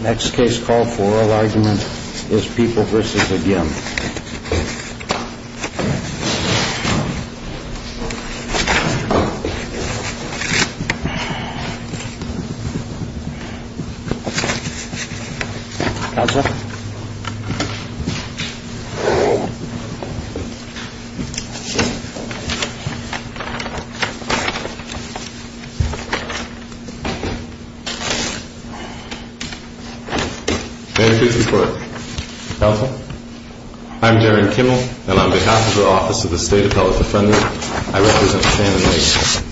Next case call for oral argument is People v. Agin. People v. Agin. I'm Darren Kimmel, and on behalf of the Office of the State Appellate Defender, I represent Shannon Nagle.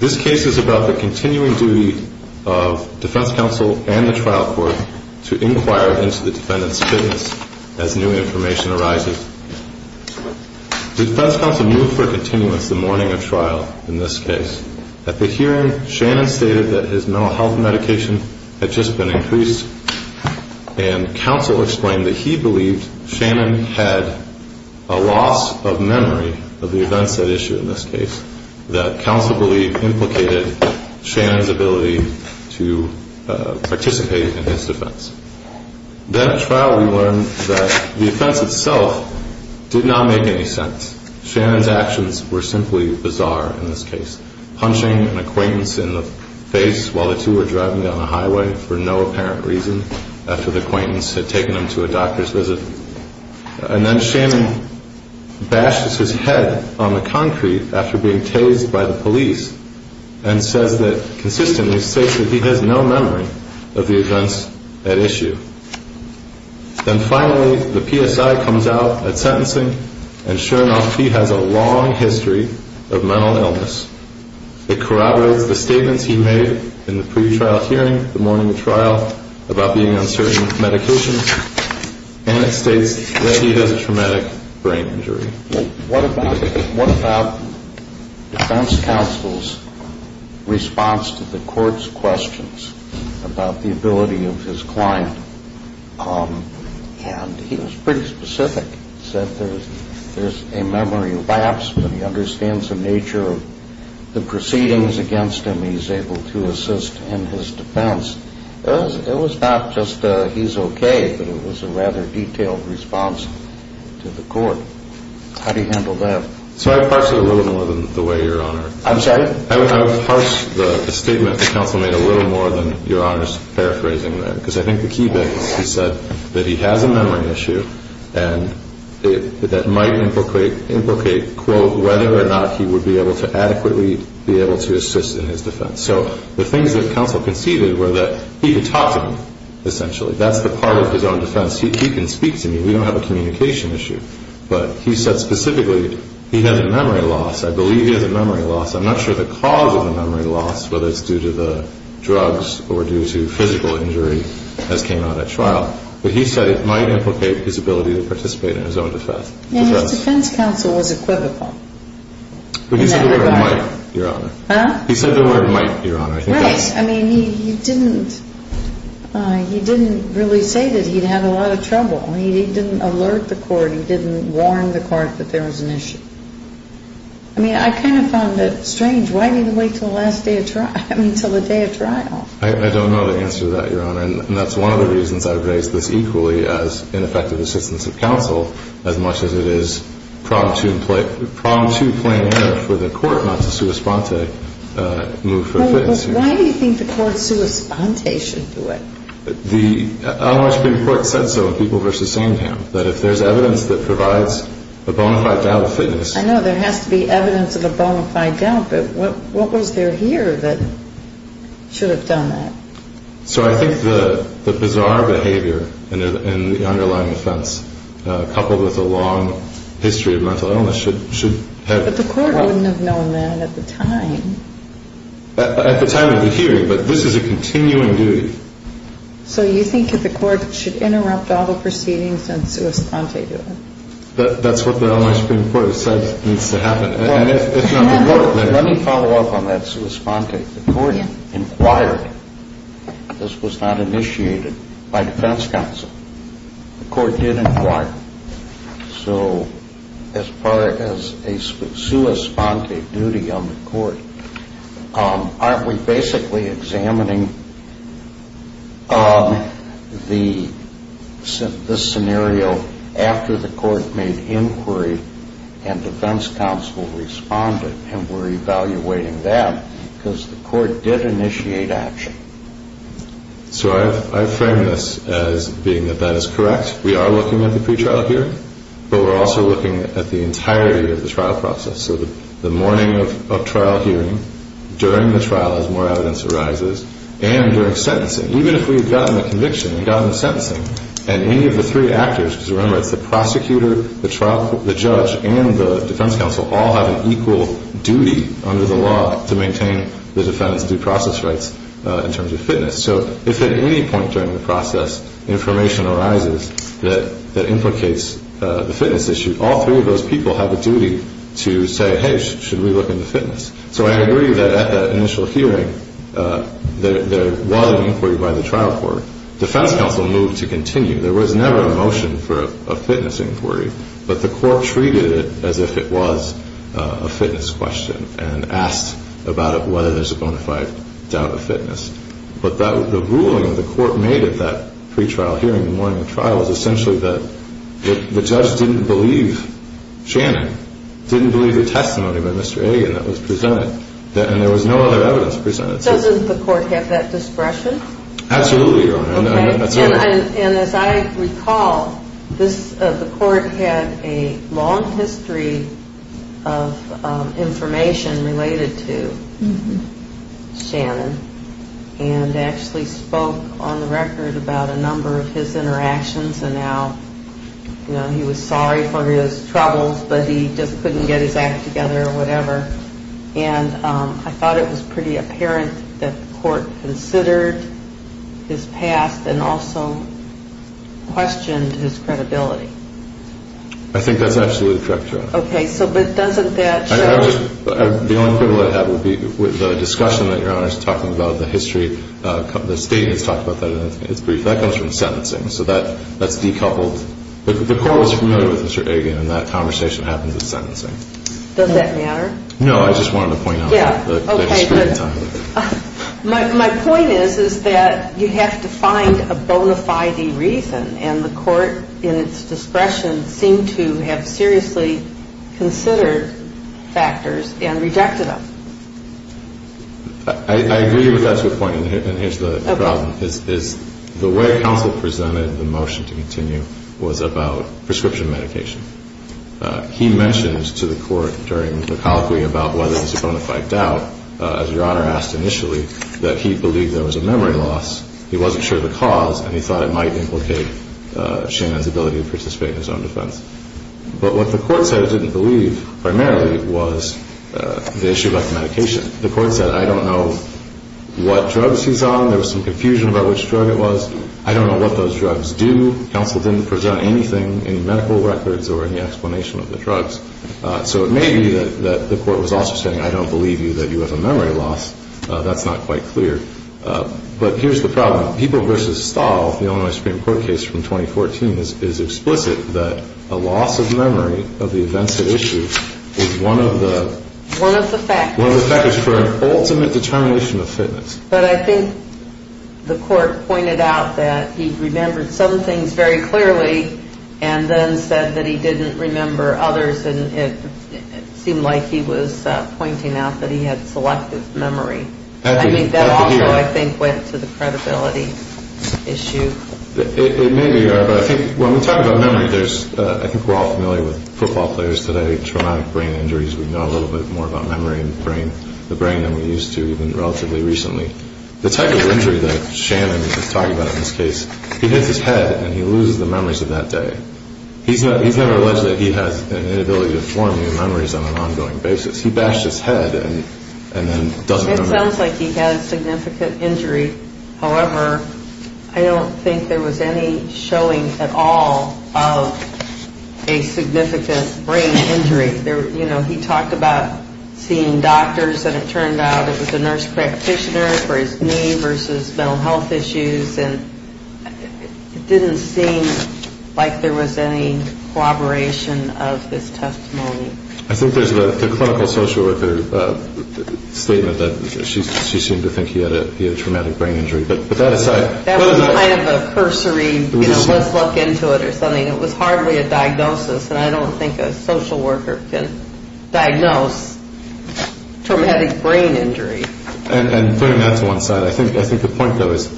This case is about the continuing duty of defense counsel and the trial court to inquire into the defendant's fitness as new information arises. The defense counsel moved for continuance the morning of trial in this case. At the hearing, Shannon stated that his mental health medication had just been increased, and counsel explained that he believed Shannon had a loss of memory of the events at issue in this case, that counsel believed implicated Shannon's ability to participate in his defense. Then at trial, we learned that the offense itself did not make any sense. Shannon's actions were simply bizarre in this case. Punching an acquaintance in the face while the two were driving down a highway for no apparent reason, after the acquaintance had taken him to a doctor's visit. And then Shannon bashes his head on the concrete after being tased by the police, and says that, consistently states that he has no memory of the events at issue. Then finally, the PSI comes out at sentencing, and sure enough, he has a long history of mental illness. It corroborates the statements he made in the pretrial hearing the morning of trial about being on certain medications, and it states that he has a traumatic brain injury. What about defense counsel's response to the court's questions about the ability of his client? And he was pretty specific. He said there's a memory lapse, but he understands the nature of the proceedings against him. He's able to assist in his defense. It was not just he's okay, but it was a rather detailed response to the court. How do you handle that? So I parse it a little more than the way Your Honor. I'm sorry? I would parse the statement that counsel made a little more than Your Honor's paraphrasing there, because I think the key bit is he said that he has a memory issue, and that might implicate, quote, whether or not he would be able to adequately be able to assist in his defense. So the things that counsel conceded were that he could talk to me, essentially. That's the part of his own defense. He can speak to me. We don't have a communication issue. But he said specifically he has a memory loss. I believe he has a memory loss. I'm not sure the cause of the memory loss, whether it's due to the drugs or due to physical injury, as came out at trial, but he said it might implicate his ability to participate in his own defense. And his defense counsel was equivocal. But he said the word might, Your Honor. Huh? He said the word might, Your Honor. Right. I mean, he didn't really say that he'd had a lot of trouble. He didn't alert the court. He didn't warn the court that there was an issue. I mean, I kind of found it strange. Why did he wait until the last day of trial? I mean, until the day of trial. I don't know the answer to that, Your Honor, and that's one of the reasons I've raised this equally as ineffective assistance of counsel, as much as it is promptu plenaire for the court not to sua sponte move for fitness. Well, why do you think the court sua sponte should do it? The Unlawful Penal Court said so in People v. Samedham, that if there's evidence that provides a bona fide doubt of fitness. I know. There has to be evidence of a bona fide doubt. But what was there here that should have done that? So I think the bizarre behavior in the underlying offense, coupled with a long history of mental illness, should have... But the court wouldn't have known that at the time. At the time of the hearing. But this is a continuing duty. So you think that the court should interrupt all the proceedings and sua sponte do it? That's what the Illinois Supreme Court has said needs to happen. And if not, the court may... Let me follow up on that sua sponte. The court inquired. This was not initiated by defense counsel. The court did inquire. So as far as a sua sponte duty on the court, aren't we basically examining this scenario after the court made inquiry and defense counsel responded, and we're evaluating that because the court did initiate action? So I frame this as being that that is correct. We are looking at the pretrial hearing, but we're also looking at the entirety of the trial process. So the morning of trial hearing, during the trial as more evidence arises, and during sentencing. Even if we had gotten the conviction and gotten the sentencing, and any of the three actors, because remember it's the prosecutor, the judge, and the defense counsel all have an equal duty under the law to maintain the defendant's due process rights in terms of fitness. So if at any point during the process information arises that implicates the fitness issue, all three of those people have a duty to say, hey, should we look into fitness? So I agree that at that initial hearing there was an inquiry by the trial court. Defense counsel moved to continue. There was never a motion for a fitness inquiry. But the court treated it as if it was a fitness question and asked about whether there's a bona fide doubt of fitness. But the ruling the court made at that pretrial hearing, the morning of trial, was essentially that the judge didn't believe Shannon, didn't believe the testimony by Mr. Hagan that was presented, and there was no other evidence presented. Absolutely, Your Honor. And as I recall, the court had a long history of information related to Shannon and actually spoke on the record about a number of his interactions and how he was sorry for his troubles, but he just couldn't get his act together or whatever. And I thought it was pretty apparent that the court considered his past and also questioned his credibility. I think that's absolutely correct, Your Honor. Okay, so but doesn't that show... The only quibble I have would be with the discussion that Your Honor is talking about, the history, the state has talked about that in its brief. That comes from sentencing, so that's decoupled. The court was familiar with Mr. Hagan, and that conversation happened with sentencing. Does that matter? No, I just wanted to point out the history entirely. My point is that you have to find a bona fide reason, and the court in its discretion seemed to have seriously considered factors and rejected them. I agree with that to a point, and here's the problem. The way counsel presented the motion to continue was about prescription medication. He mentioned to the court during the colloquy about whether it was a bona fide doubt, as Your Honor asked initially, that he believed there was a memory loss. He wasn't sure of the cause, and he thought it might implicate Shannon's ability to participate in his own defense. But what the court said it didn't believe primarily was the issue about the medication. The court said, I don't know what drugs he's on. There was some confusion about which drug it was. I don't know what those drugs do. Counsel didn't present anything, any medical records or any explanation of the drugs. So it may be that the court was also saying, I don't believe you, that you have a memory loss. That's not quite clear. But here's the problem. People v. Stahl, the Illinois Supreme Court case from 2014, is explicit that a loss of memory of the events at issue is one of the factors for an ultimate determination of fitness. But I think the court pointed out that he remembered some things very clearly and then said that he didn't remember others, and it seemed like he was pointing out that he had selective memory. I think that also, I think, went to the credibility issue. It may be, Your Honor, but I think when we talk about memory, I think we're all familiar with football players today, traumatic brain injuries. We know a little bit more about memory and the brain than we used to even relatively recently. The type of injury that Shannon is talking about in this case, he hits his head and he loses the memories of that day. He's never alleged that he has an inability to form new memories on an ongoing basis. He bashed his head and then doesn't remember. It sounds like he had a significant injury. However, I don't think there was any showing at all of a significant brain injury. You know, he talked about seeing doctors, and it turned out it was a nurse practitioner for his knee versus mental health issues, and it didn't seem like there was any collaboration of this testimony. I think there's the clinical social worker's statement that she seemed to think he had a traumatic brain injury. But that aside... That was kind of a cursory, you know, let's look into it or something. It was hardly a diagnosis, and I don't think a social worker can diagnose traumatic brain injury. And putting that to one side, I think the point, though, is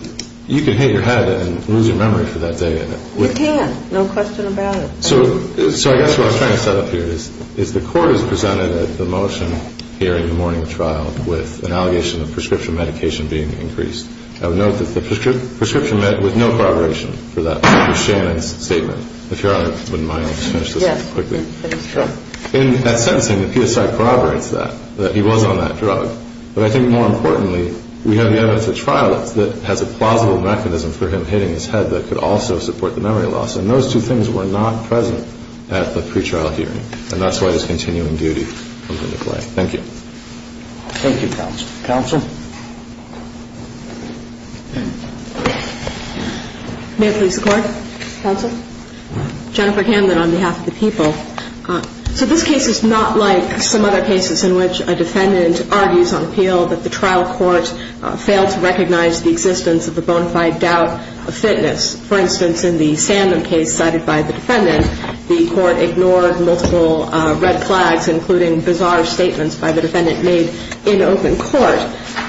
you can hit your head and lose your memory for that day. You can. No question about it. So I guess what I was trying to set up here is the court has presented the motion here in the morning trial with an allegation of prescription medication being increased. I would note that the prescription med with no corroboration for that was Shannon's statement. If Your Honor wouldn't mind, I'll just finish this up quickly. In that sentencing, the PSI corroborates that, that he was on that drug. But I think more importantly, we have the evidence at trial that has a plausible mechanism for him hitting his head that could also support the memory loss. And those two things were not present at the pretrial hearing, and that's why this continuing duty comes into play. Thank you. Thank you, counsel. Counsel? May it please the Court? Counsel? Jennifer Hamlin on behalf of the people. So this case is not like some other cases in which a defendant argues on appeal that the trial court failed to recognize the existence of a bona fide doubt of fitness. For instance, in the Sandman case cited by the defendant, the court ignored multiple red flags, including bizarre statements by the defendant made in open court,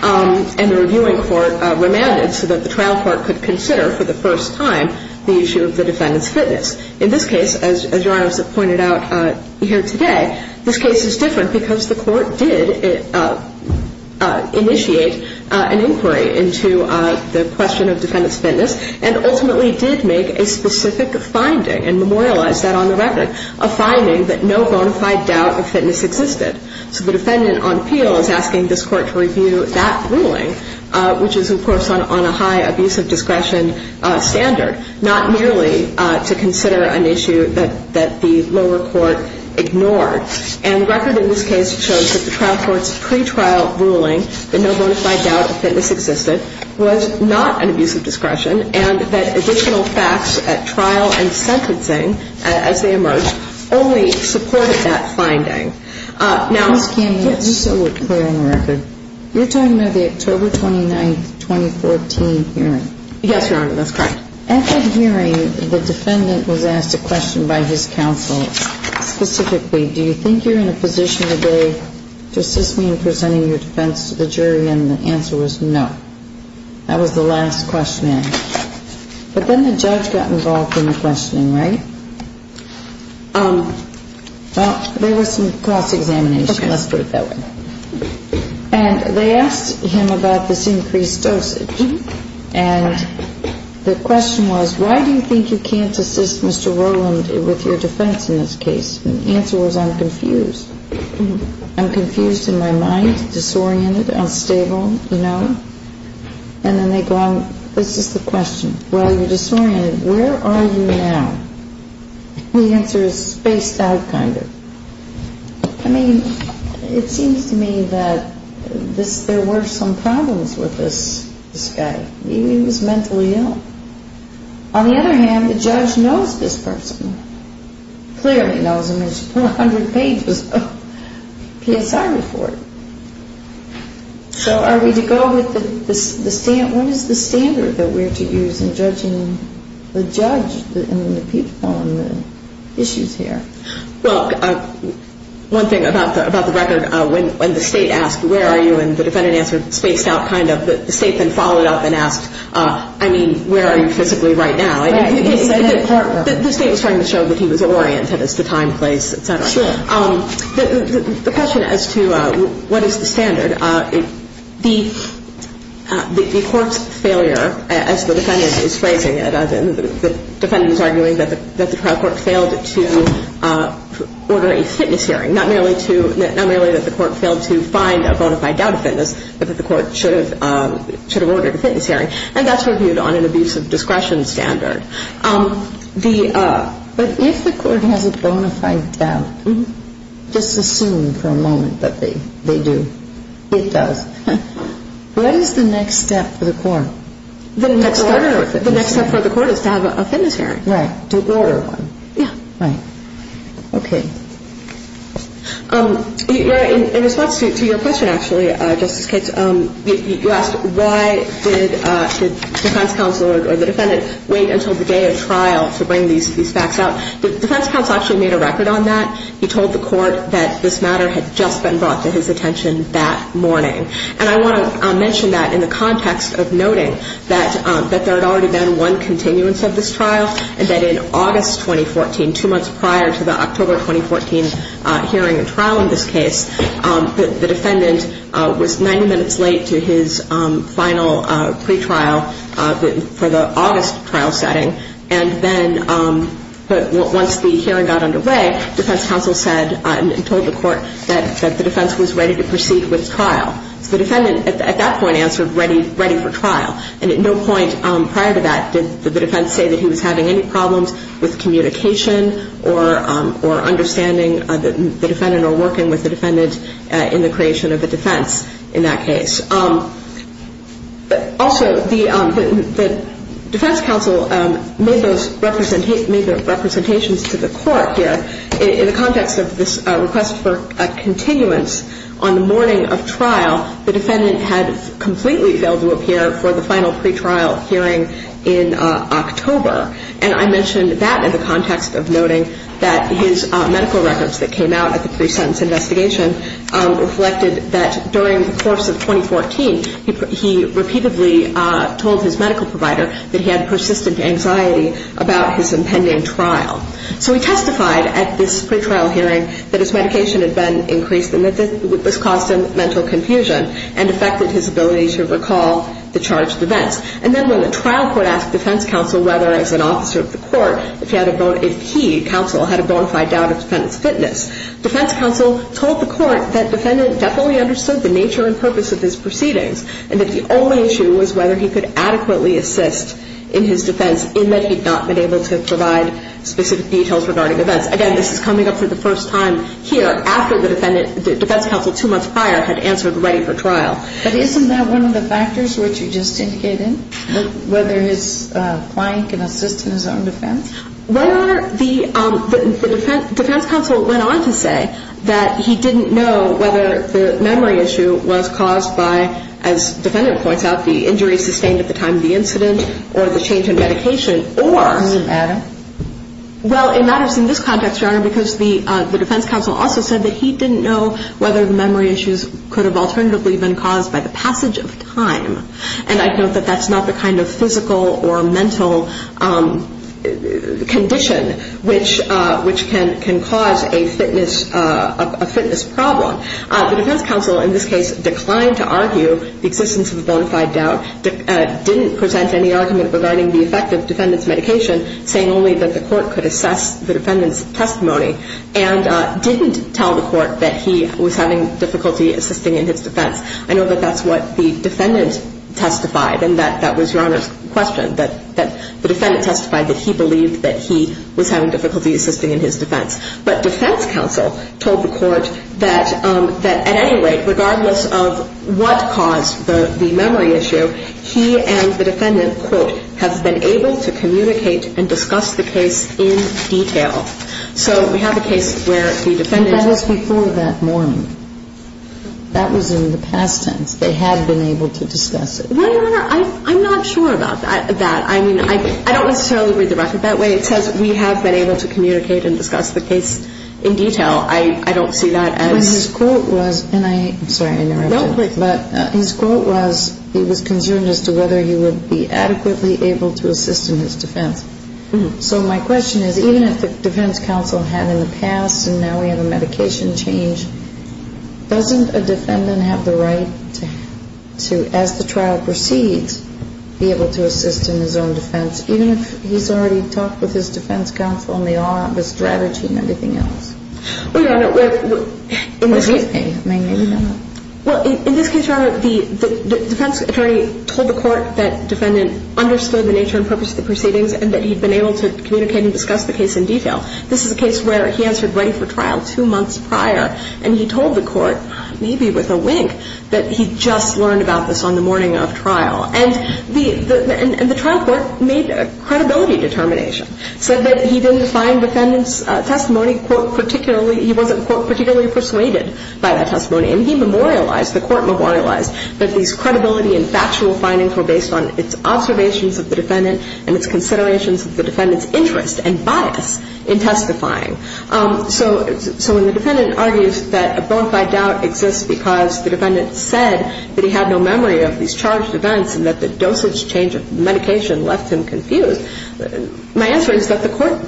and the reviewing court remanded so that the trial court could consider for the first time the issue of the defendant's fitness. In this case, as Your Honor has pointed out here today, this case is different because the court did initiate an inquiry into the question of defendant's fitness and ultimately did make a specific finding and memorialized that on the record, a finding that no bona fide doubt of fitness existed. So the defendant on appeal is asking this court to review that ruling, which is, of course, on a high abuse of discretion standard, not merely to consider an issue that the lower court ignored. And the record in this case shows that the trial court's pretrial ruling that no bona fide doubt of fitness existed was not an abuse of discretion, and that additional facts at trial and sentencing as they emerged only supported that finding. Now — Ms. Kami, just so we're clear on the record, you're talking about the October 29, 2014 hearing. Yes, Your Honor. That's correct. At that hearing, the defendant was asked a question by his counsel specifically, do you think you're in a position today to assist me in presenting your defense to the jury? And the answer was no. That was the last question asked. But then the judge got involved in the questioning, right? Well, there was some cross-examination. Okay, let's put it that way. And they asked him about this increased dosage. And the question was, why do you think you can't assist Mr. Rowland with your defense in this case? And the answer was, I'm confused. I'm confused in my mind, disoriented, unstable, you know? And then they go on. This is the question. Well, you're disoriented. Where are you now? The answer is spaced out kind of. I mean, it seems to me that there were some problems with this guy. He was mentally ill. On the other hand, the judge knows this person. Clearly knows him. There's 400 pages of PSI report. So are we to go with the standard? What is the standard that we're to use in judging the judge on the issues here? Well, one thing about the record, when the state asked, where are you? And the defendant answered spaced out kind of. The state then followed up and asked, I mean, where are you physically right now? Right. The state was trying to show that he was oriented as to time, place, et cetera. Sure. The question as to what is the standard, the court's failure, as the defendant is phrasing it, the defendant is arguing that the trial court failed to order a fitness hearing, not merely that the court failed to find a bona fide doubt of fitness, but that the court should have ordered a fitness hearing. And that's reviewed on an abuse of discretion standard. But if the court has a bona fide doubt, just assume for a moment that they do, it does. What is the next step for the court? The next step for the court is to have a fitness hearing. Right. To order one. Yeah. Right. Okay. In response to your question, actually, Justice Katz, you asked why did the defense counsel or the defendant wait until the day of trial to bring these facts out. The defense counsel actually made a record on that. He told the court that this matter had just been brought to his attention that morning. And I want to mention that in the context of noting that there had already been one continuance of this trial and that in August 2014, two months prior to the October 2014 hearing and trial in this case, the defendant was 90 minutes late to his final pretrial for the August trial setting. And then once the hearing got underway, defense counsel said and told the court that the defense was ready to proceed with trial. So the defendant at that point answered ready for trial. And at no point prior to that did the defense say that he was having any problems with communication or understanding the defendant or working with the defendant in the creation of a defense in that case. But also the defense counsel made those representations to the court here. In the context of this request for a continuance on the morning of trial, the defendant had completely failed to appear for the final pretrial hearing in October. And I mentioned that in the context of noting that his medical records that came out at the pre-sentence investigation reflected that during the course of 2014, he repeatedly told his medical provider that he had persistent anxiety about his impending trial. So he testified at this pretrial hearing that his medication had been increased and that this caused him mental confusion and affected his ability to recall the charged events. And then when the trial court asked defense counsel whether, as an officer of the court, if he, counsel, had a bona fide doubt of the defendant's fitness, defense counsel told the court that the defendant definitely understood the nature and purpose of his proceedings and that the only issue was whether he could adequately assist in his defense in that he had not been able to provide specific details regarding events. Again, this is coming up for the first time here, after the defense counsel two months prior had answered ready for trial. But isn't that one of the factors which you just indicated, whether his client can assist in his own defense? The defense counsel went on to say that he didn't know whether the memory issue was caused by, as the defendant points out, the injury sustained at the time of the incident or the change in medication or... Does it matter? Well, it matters in this context, Your Honor, because the defense counsel also said that he didn't know whether the memory issues could have alternatively been caused by the passage of time. And I note that that's not the kind of physical or mental condition which can cause a fitness problem. The defense counsel, in this case, declined to argue the existence of a bona fide doubt, didn't present any argument regarding the effect of the defendant's medication, saying only that the court could assess the defendant's testimony, and didn't tell the court that he was having difficulty assisting in his defense. I know that that's what the defendant testified, and that was Your Honor's question, that the defendant testified that he believed that he was having difficulty assisting in his defense. But defense counsel told the court that at any rate, regardless of what caused the memory issue, he and the defendant, quote, have been able to communicate and discuss the case in detail. So we have a case where the defendant... But that was before that morning. That was in the past tense. They had been able to discuss it. Well, Your Honor, I'm not sure about that. I mean, I don't necessarily read the record that way. It says we have been able to communicate and discuss the case in detail. I don't see that as... But his quote was, and I'm sorry I interrupted. No, please. But his quote was, he was concerned as to whether he would be adequately able to assist in his defense. So my question is, even if the defense counsel had in the past, and now we have a medication change, doesn't a defendant have the right to, as the trial proceeds, be able to assist in his own defense, even if he's already talked with his defense counsel and they all have a strategy and everything else? Well, Your Honor, in this case... Well, in this case, Your Honor, the defense attorney told the court that the defendant understood the nature and purpose of the proceedings and that he'd been able to communicate and discuss the case in detail. This is a case where he answered ready for trial two months prior, and he told the court, maybe with a wink, that he'd just learned about this on the morning of trial. And the trial court made a credibility determination, said that he didn't find the defendant's testimony, quote, particularly, he wasn't, quote, particularly persuaded by that testimony. And he memorialized, the court memorialized, that these credibility and factual findings were based on its observations of the defendant and its considerations of the defendant's interest and bias in testifying. So when the defendant argues that a bona fide doubt exists because the defendant said that he had no memory of these charged events and that the dosage change of medication left him confused, my answer is that the court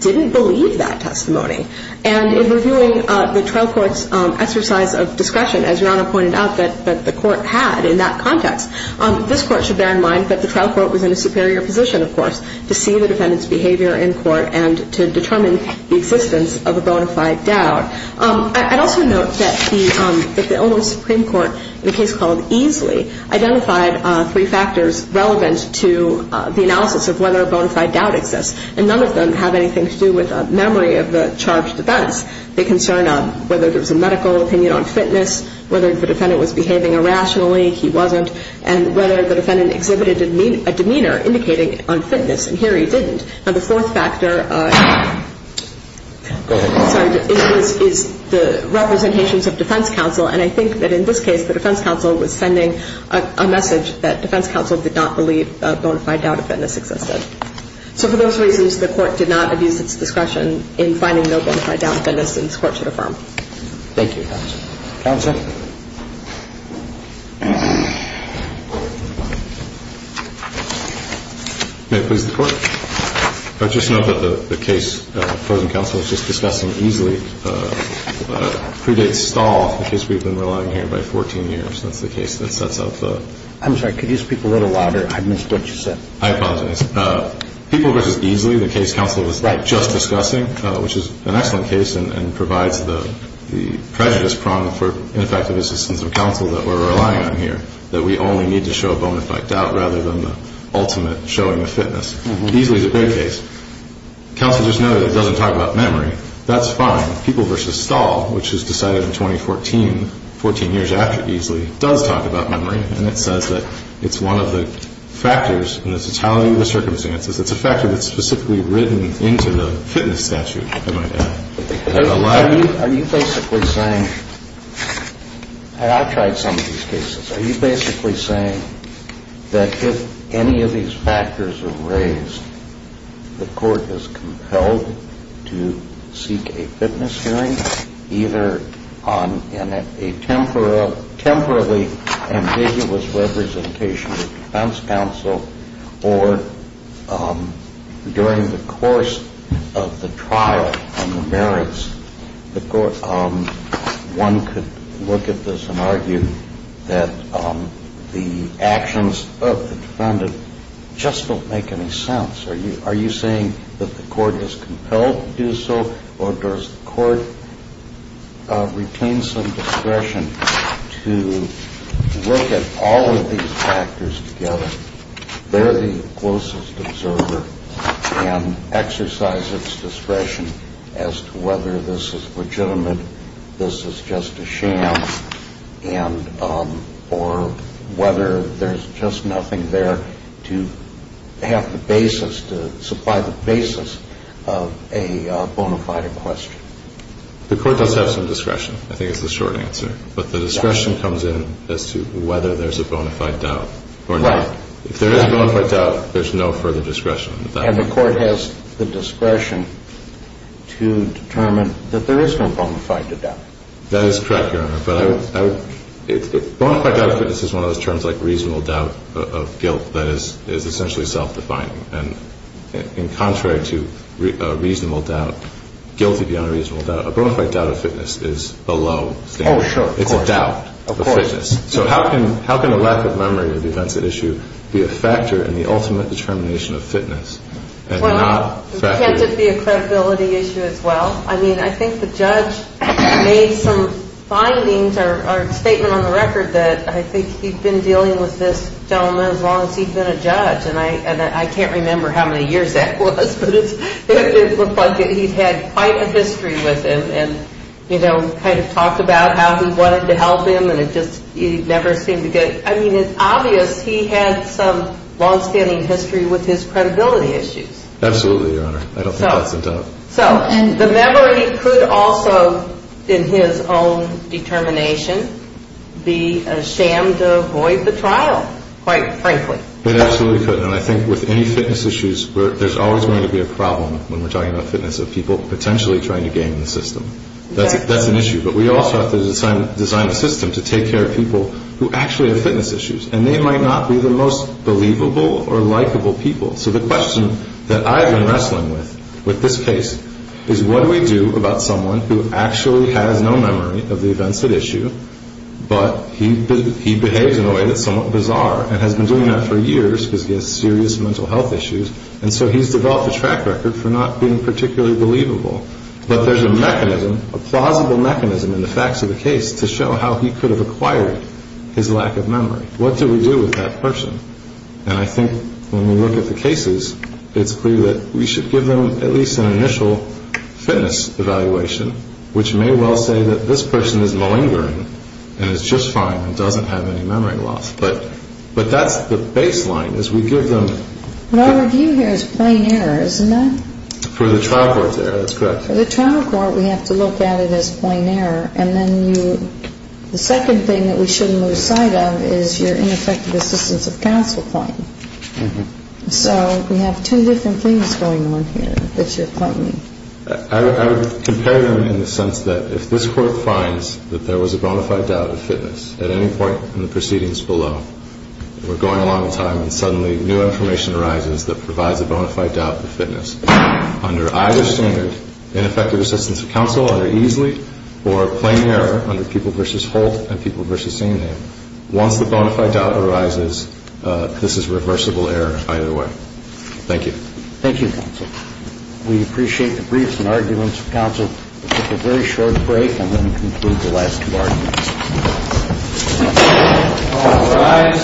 didn't believe that testimony. And in reviewing the trial court's exercise of discretion, as Your Honor pointed out that the court had in that context, this court should bear in mind that the trial court was in a superior position, of course, to see the defendant's behavior in court and to determine the existence of a bona fide doubt. I'd also note that the Illinois Supreme Court, in a case called Easley, identified three factors relevant to the analysis of whether a bona fide doubt exists. And none of them have anything to do with a memory of the charged events. They concern whether there was a medical opinion on fitness, whether the defendant was behaving irrationally, he wasn't, and whether the defendant exhibited a demeanor indicating unfitness. And here he didn't. Now, the fourth factor is the representations of defense counsel. And I think that in this case, the defense counsel was sending a message that defense counsel did not believe a bona fide doubt of fitness existed. So for those reasons, the court did not abuse its discretion in finding no bona fide doubt of fitness in this court to affirm. Thank you, Your Honor. Counsel? May it please the Court? I would just note that the case of frozen counsel is just discussing Easley. It predates Stahl, the case we've been relying on here, by 14 years. That's the case that sets up the – I'm sorry. Could you speak a little louder? I missed what you said. I apologize. People versus Easley, the case counsel was just discussing, which is an excellent case and provides the prejudiced prong for ineffective assistance of counsel that we're relying on here, that we only need to show a bona fide doubt rather than the ultimate showing of fitness. Easley is a great case. Counsel, just know that it doesn't talk about memory. That's fine. People versus Stahl, which was decided in 2014, 14 years after Easley, does talk about memory, and it says that it's one of the factors in the totality of the circumstances. It's a factor that's specifically written into the fitness statute, if I might add. Are you basically saying – and I've tried some of these cases. Are you basically saying that if any of these factors are raised, the court is compelled to seek a fitness hearing, either in a temporally ambiguous representation with defense counsel or during the course of the trial on the merits, one could look at this and argue that the actions of the defendant just don't make any sense? Are you saying that the court is compelled to do so, or does the court retain some discretion to look at all of these factors together? They're the closest observer and exercise its discretion as to whether this is legitimate, this is just a sham, or whether there's just nothing there to have the basis, to supply the basis of a bona fide question. The court does have some discretion, I think is the short answer. But the discretion comes in as to whether there's a bona fide doubt or not. Right. If there is a bona fide doubt, there's no further discretion. And the court has the discretion to determine that there is no bona fide doubt. That is correct, Your Honor. Bona fide doubt of fitness is one of those terms like reasonable doubt of guilt that is essentially self-defining. And contrary to a reasonable doubt, guilty beyond a reasonable doubt, a bona fide doubt of fitness is a low standard. Oh, sure. It's a doubt of fitness. So how can a lack of memory of the defense at issue be a factor in the ultimate determination of fitness? Well, can't it be a credibility issue as well? I mean, I think the judge made some findings or statement on the record that I think he'd been dealing with this gentleman as long as he'd been a judge. And I can't remember how many years that was, but it looked like he'd had quite a history with him and, you know, kind of talked about how he wanted to help him and it just never seemed to get – I mean, it's obvious he had some longstanding history with his credibility issues. Absolutely, Your Honor. I don't think that's a doubt. So the memory could also, in his own determination, be a sham to avoid the trial, quite frankly. It absolutely could. And I think with any fitness issues, there's always going to be a problem when we're talking about fitness of people potentially trying to game the system. That's an issue. But we also have to design a system to take care of people who actually have fitness issues. And they might not be the most believable or likable people. So the question that I've been wrestling with with this case is what do we do about someone who actually has no memory of the events at issue but he behaves in a way that's somewhat bizarre and has been doing that for years because he has serious mental health issues and so he's developed a track record for not being particularly believable. But there's a mechanism, a plausible mechanism in the facts of the case to show how he could have acquired his lack of memory. What do we do with that person? And I think when we look at the cases, it's clear that we should give them at least an initial fitness evaluation, which may well say that this person is malingering and is just fine and doesn't have any memory loss. But that's the baseline is we give them... What I review here is plain error, isn't it? For the trial court's error, that's correct. For the trial court, we have to look at it as plain error. And then the second thing that we shouldn't lose sight of is your ineffective assistance of counsel claim. So we have two different things going on here that you're claiming. I would compare them in the sense that if this court finds that there was a bona fide doubt of fitness at any point in the proceedings below, we're going along in time and suddenly new information arises that provides a bona fide doubt of fitness. Under either standard, ineffective assistance of counsel, either easily, or plain error under People v. Holt and People v. Sainame, once the bona fide doubt arises, this is reversible error either way. Thank you. Thank you, counsel. We appreciate the briefs and arguments. Counsel, we'll take a very short break and then conclude the last two arguments. All rise.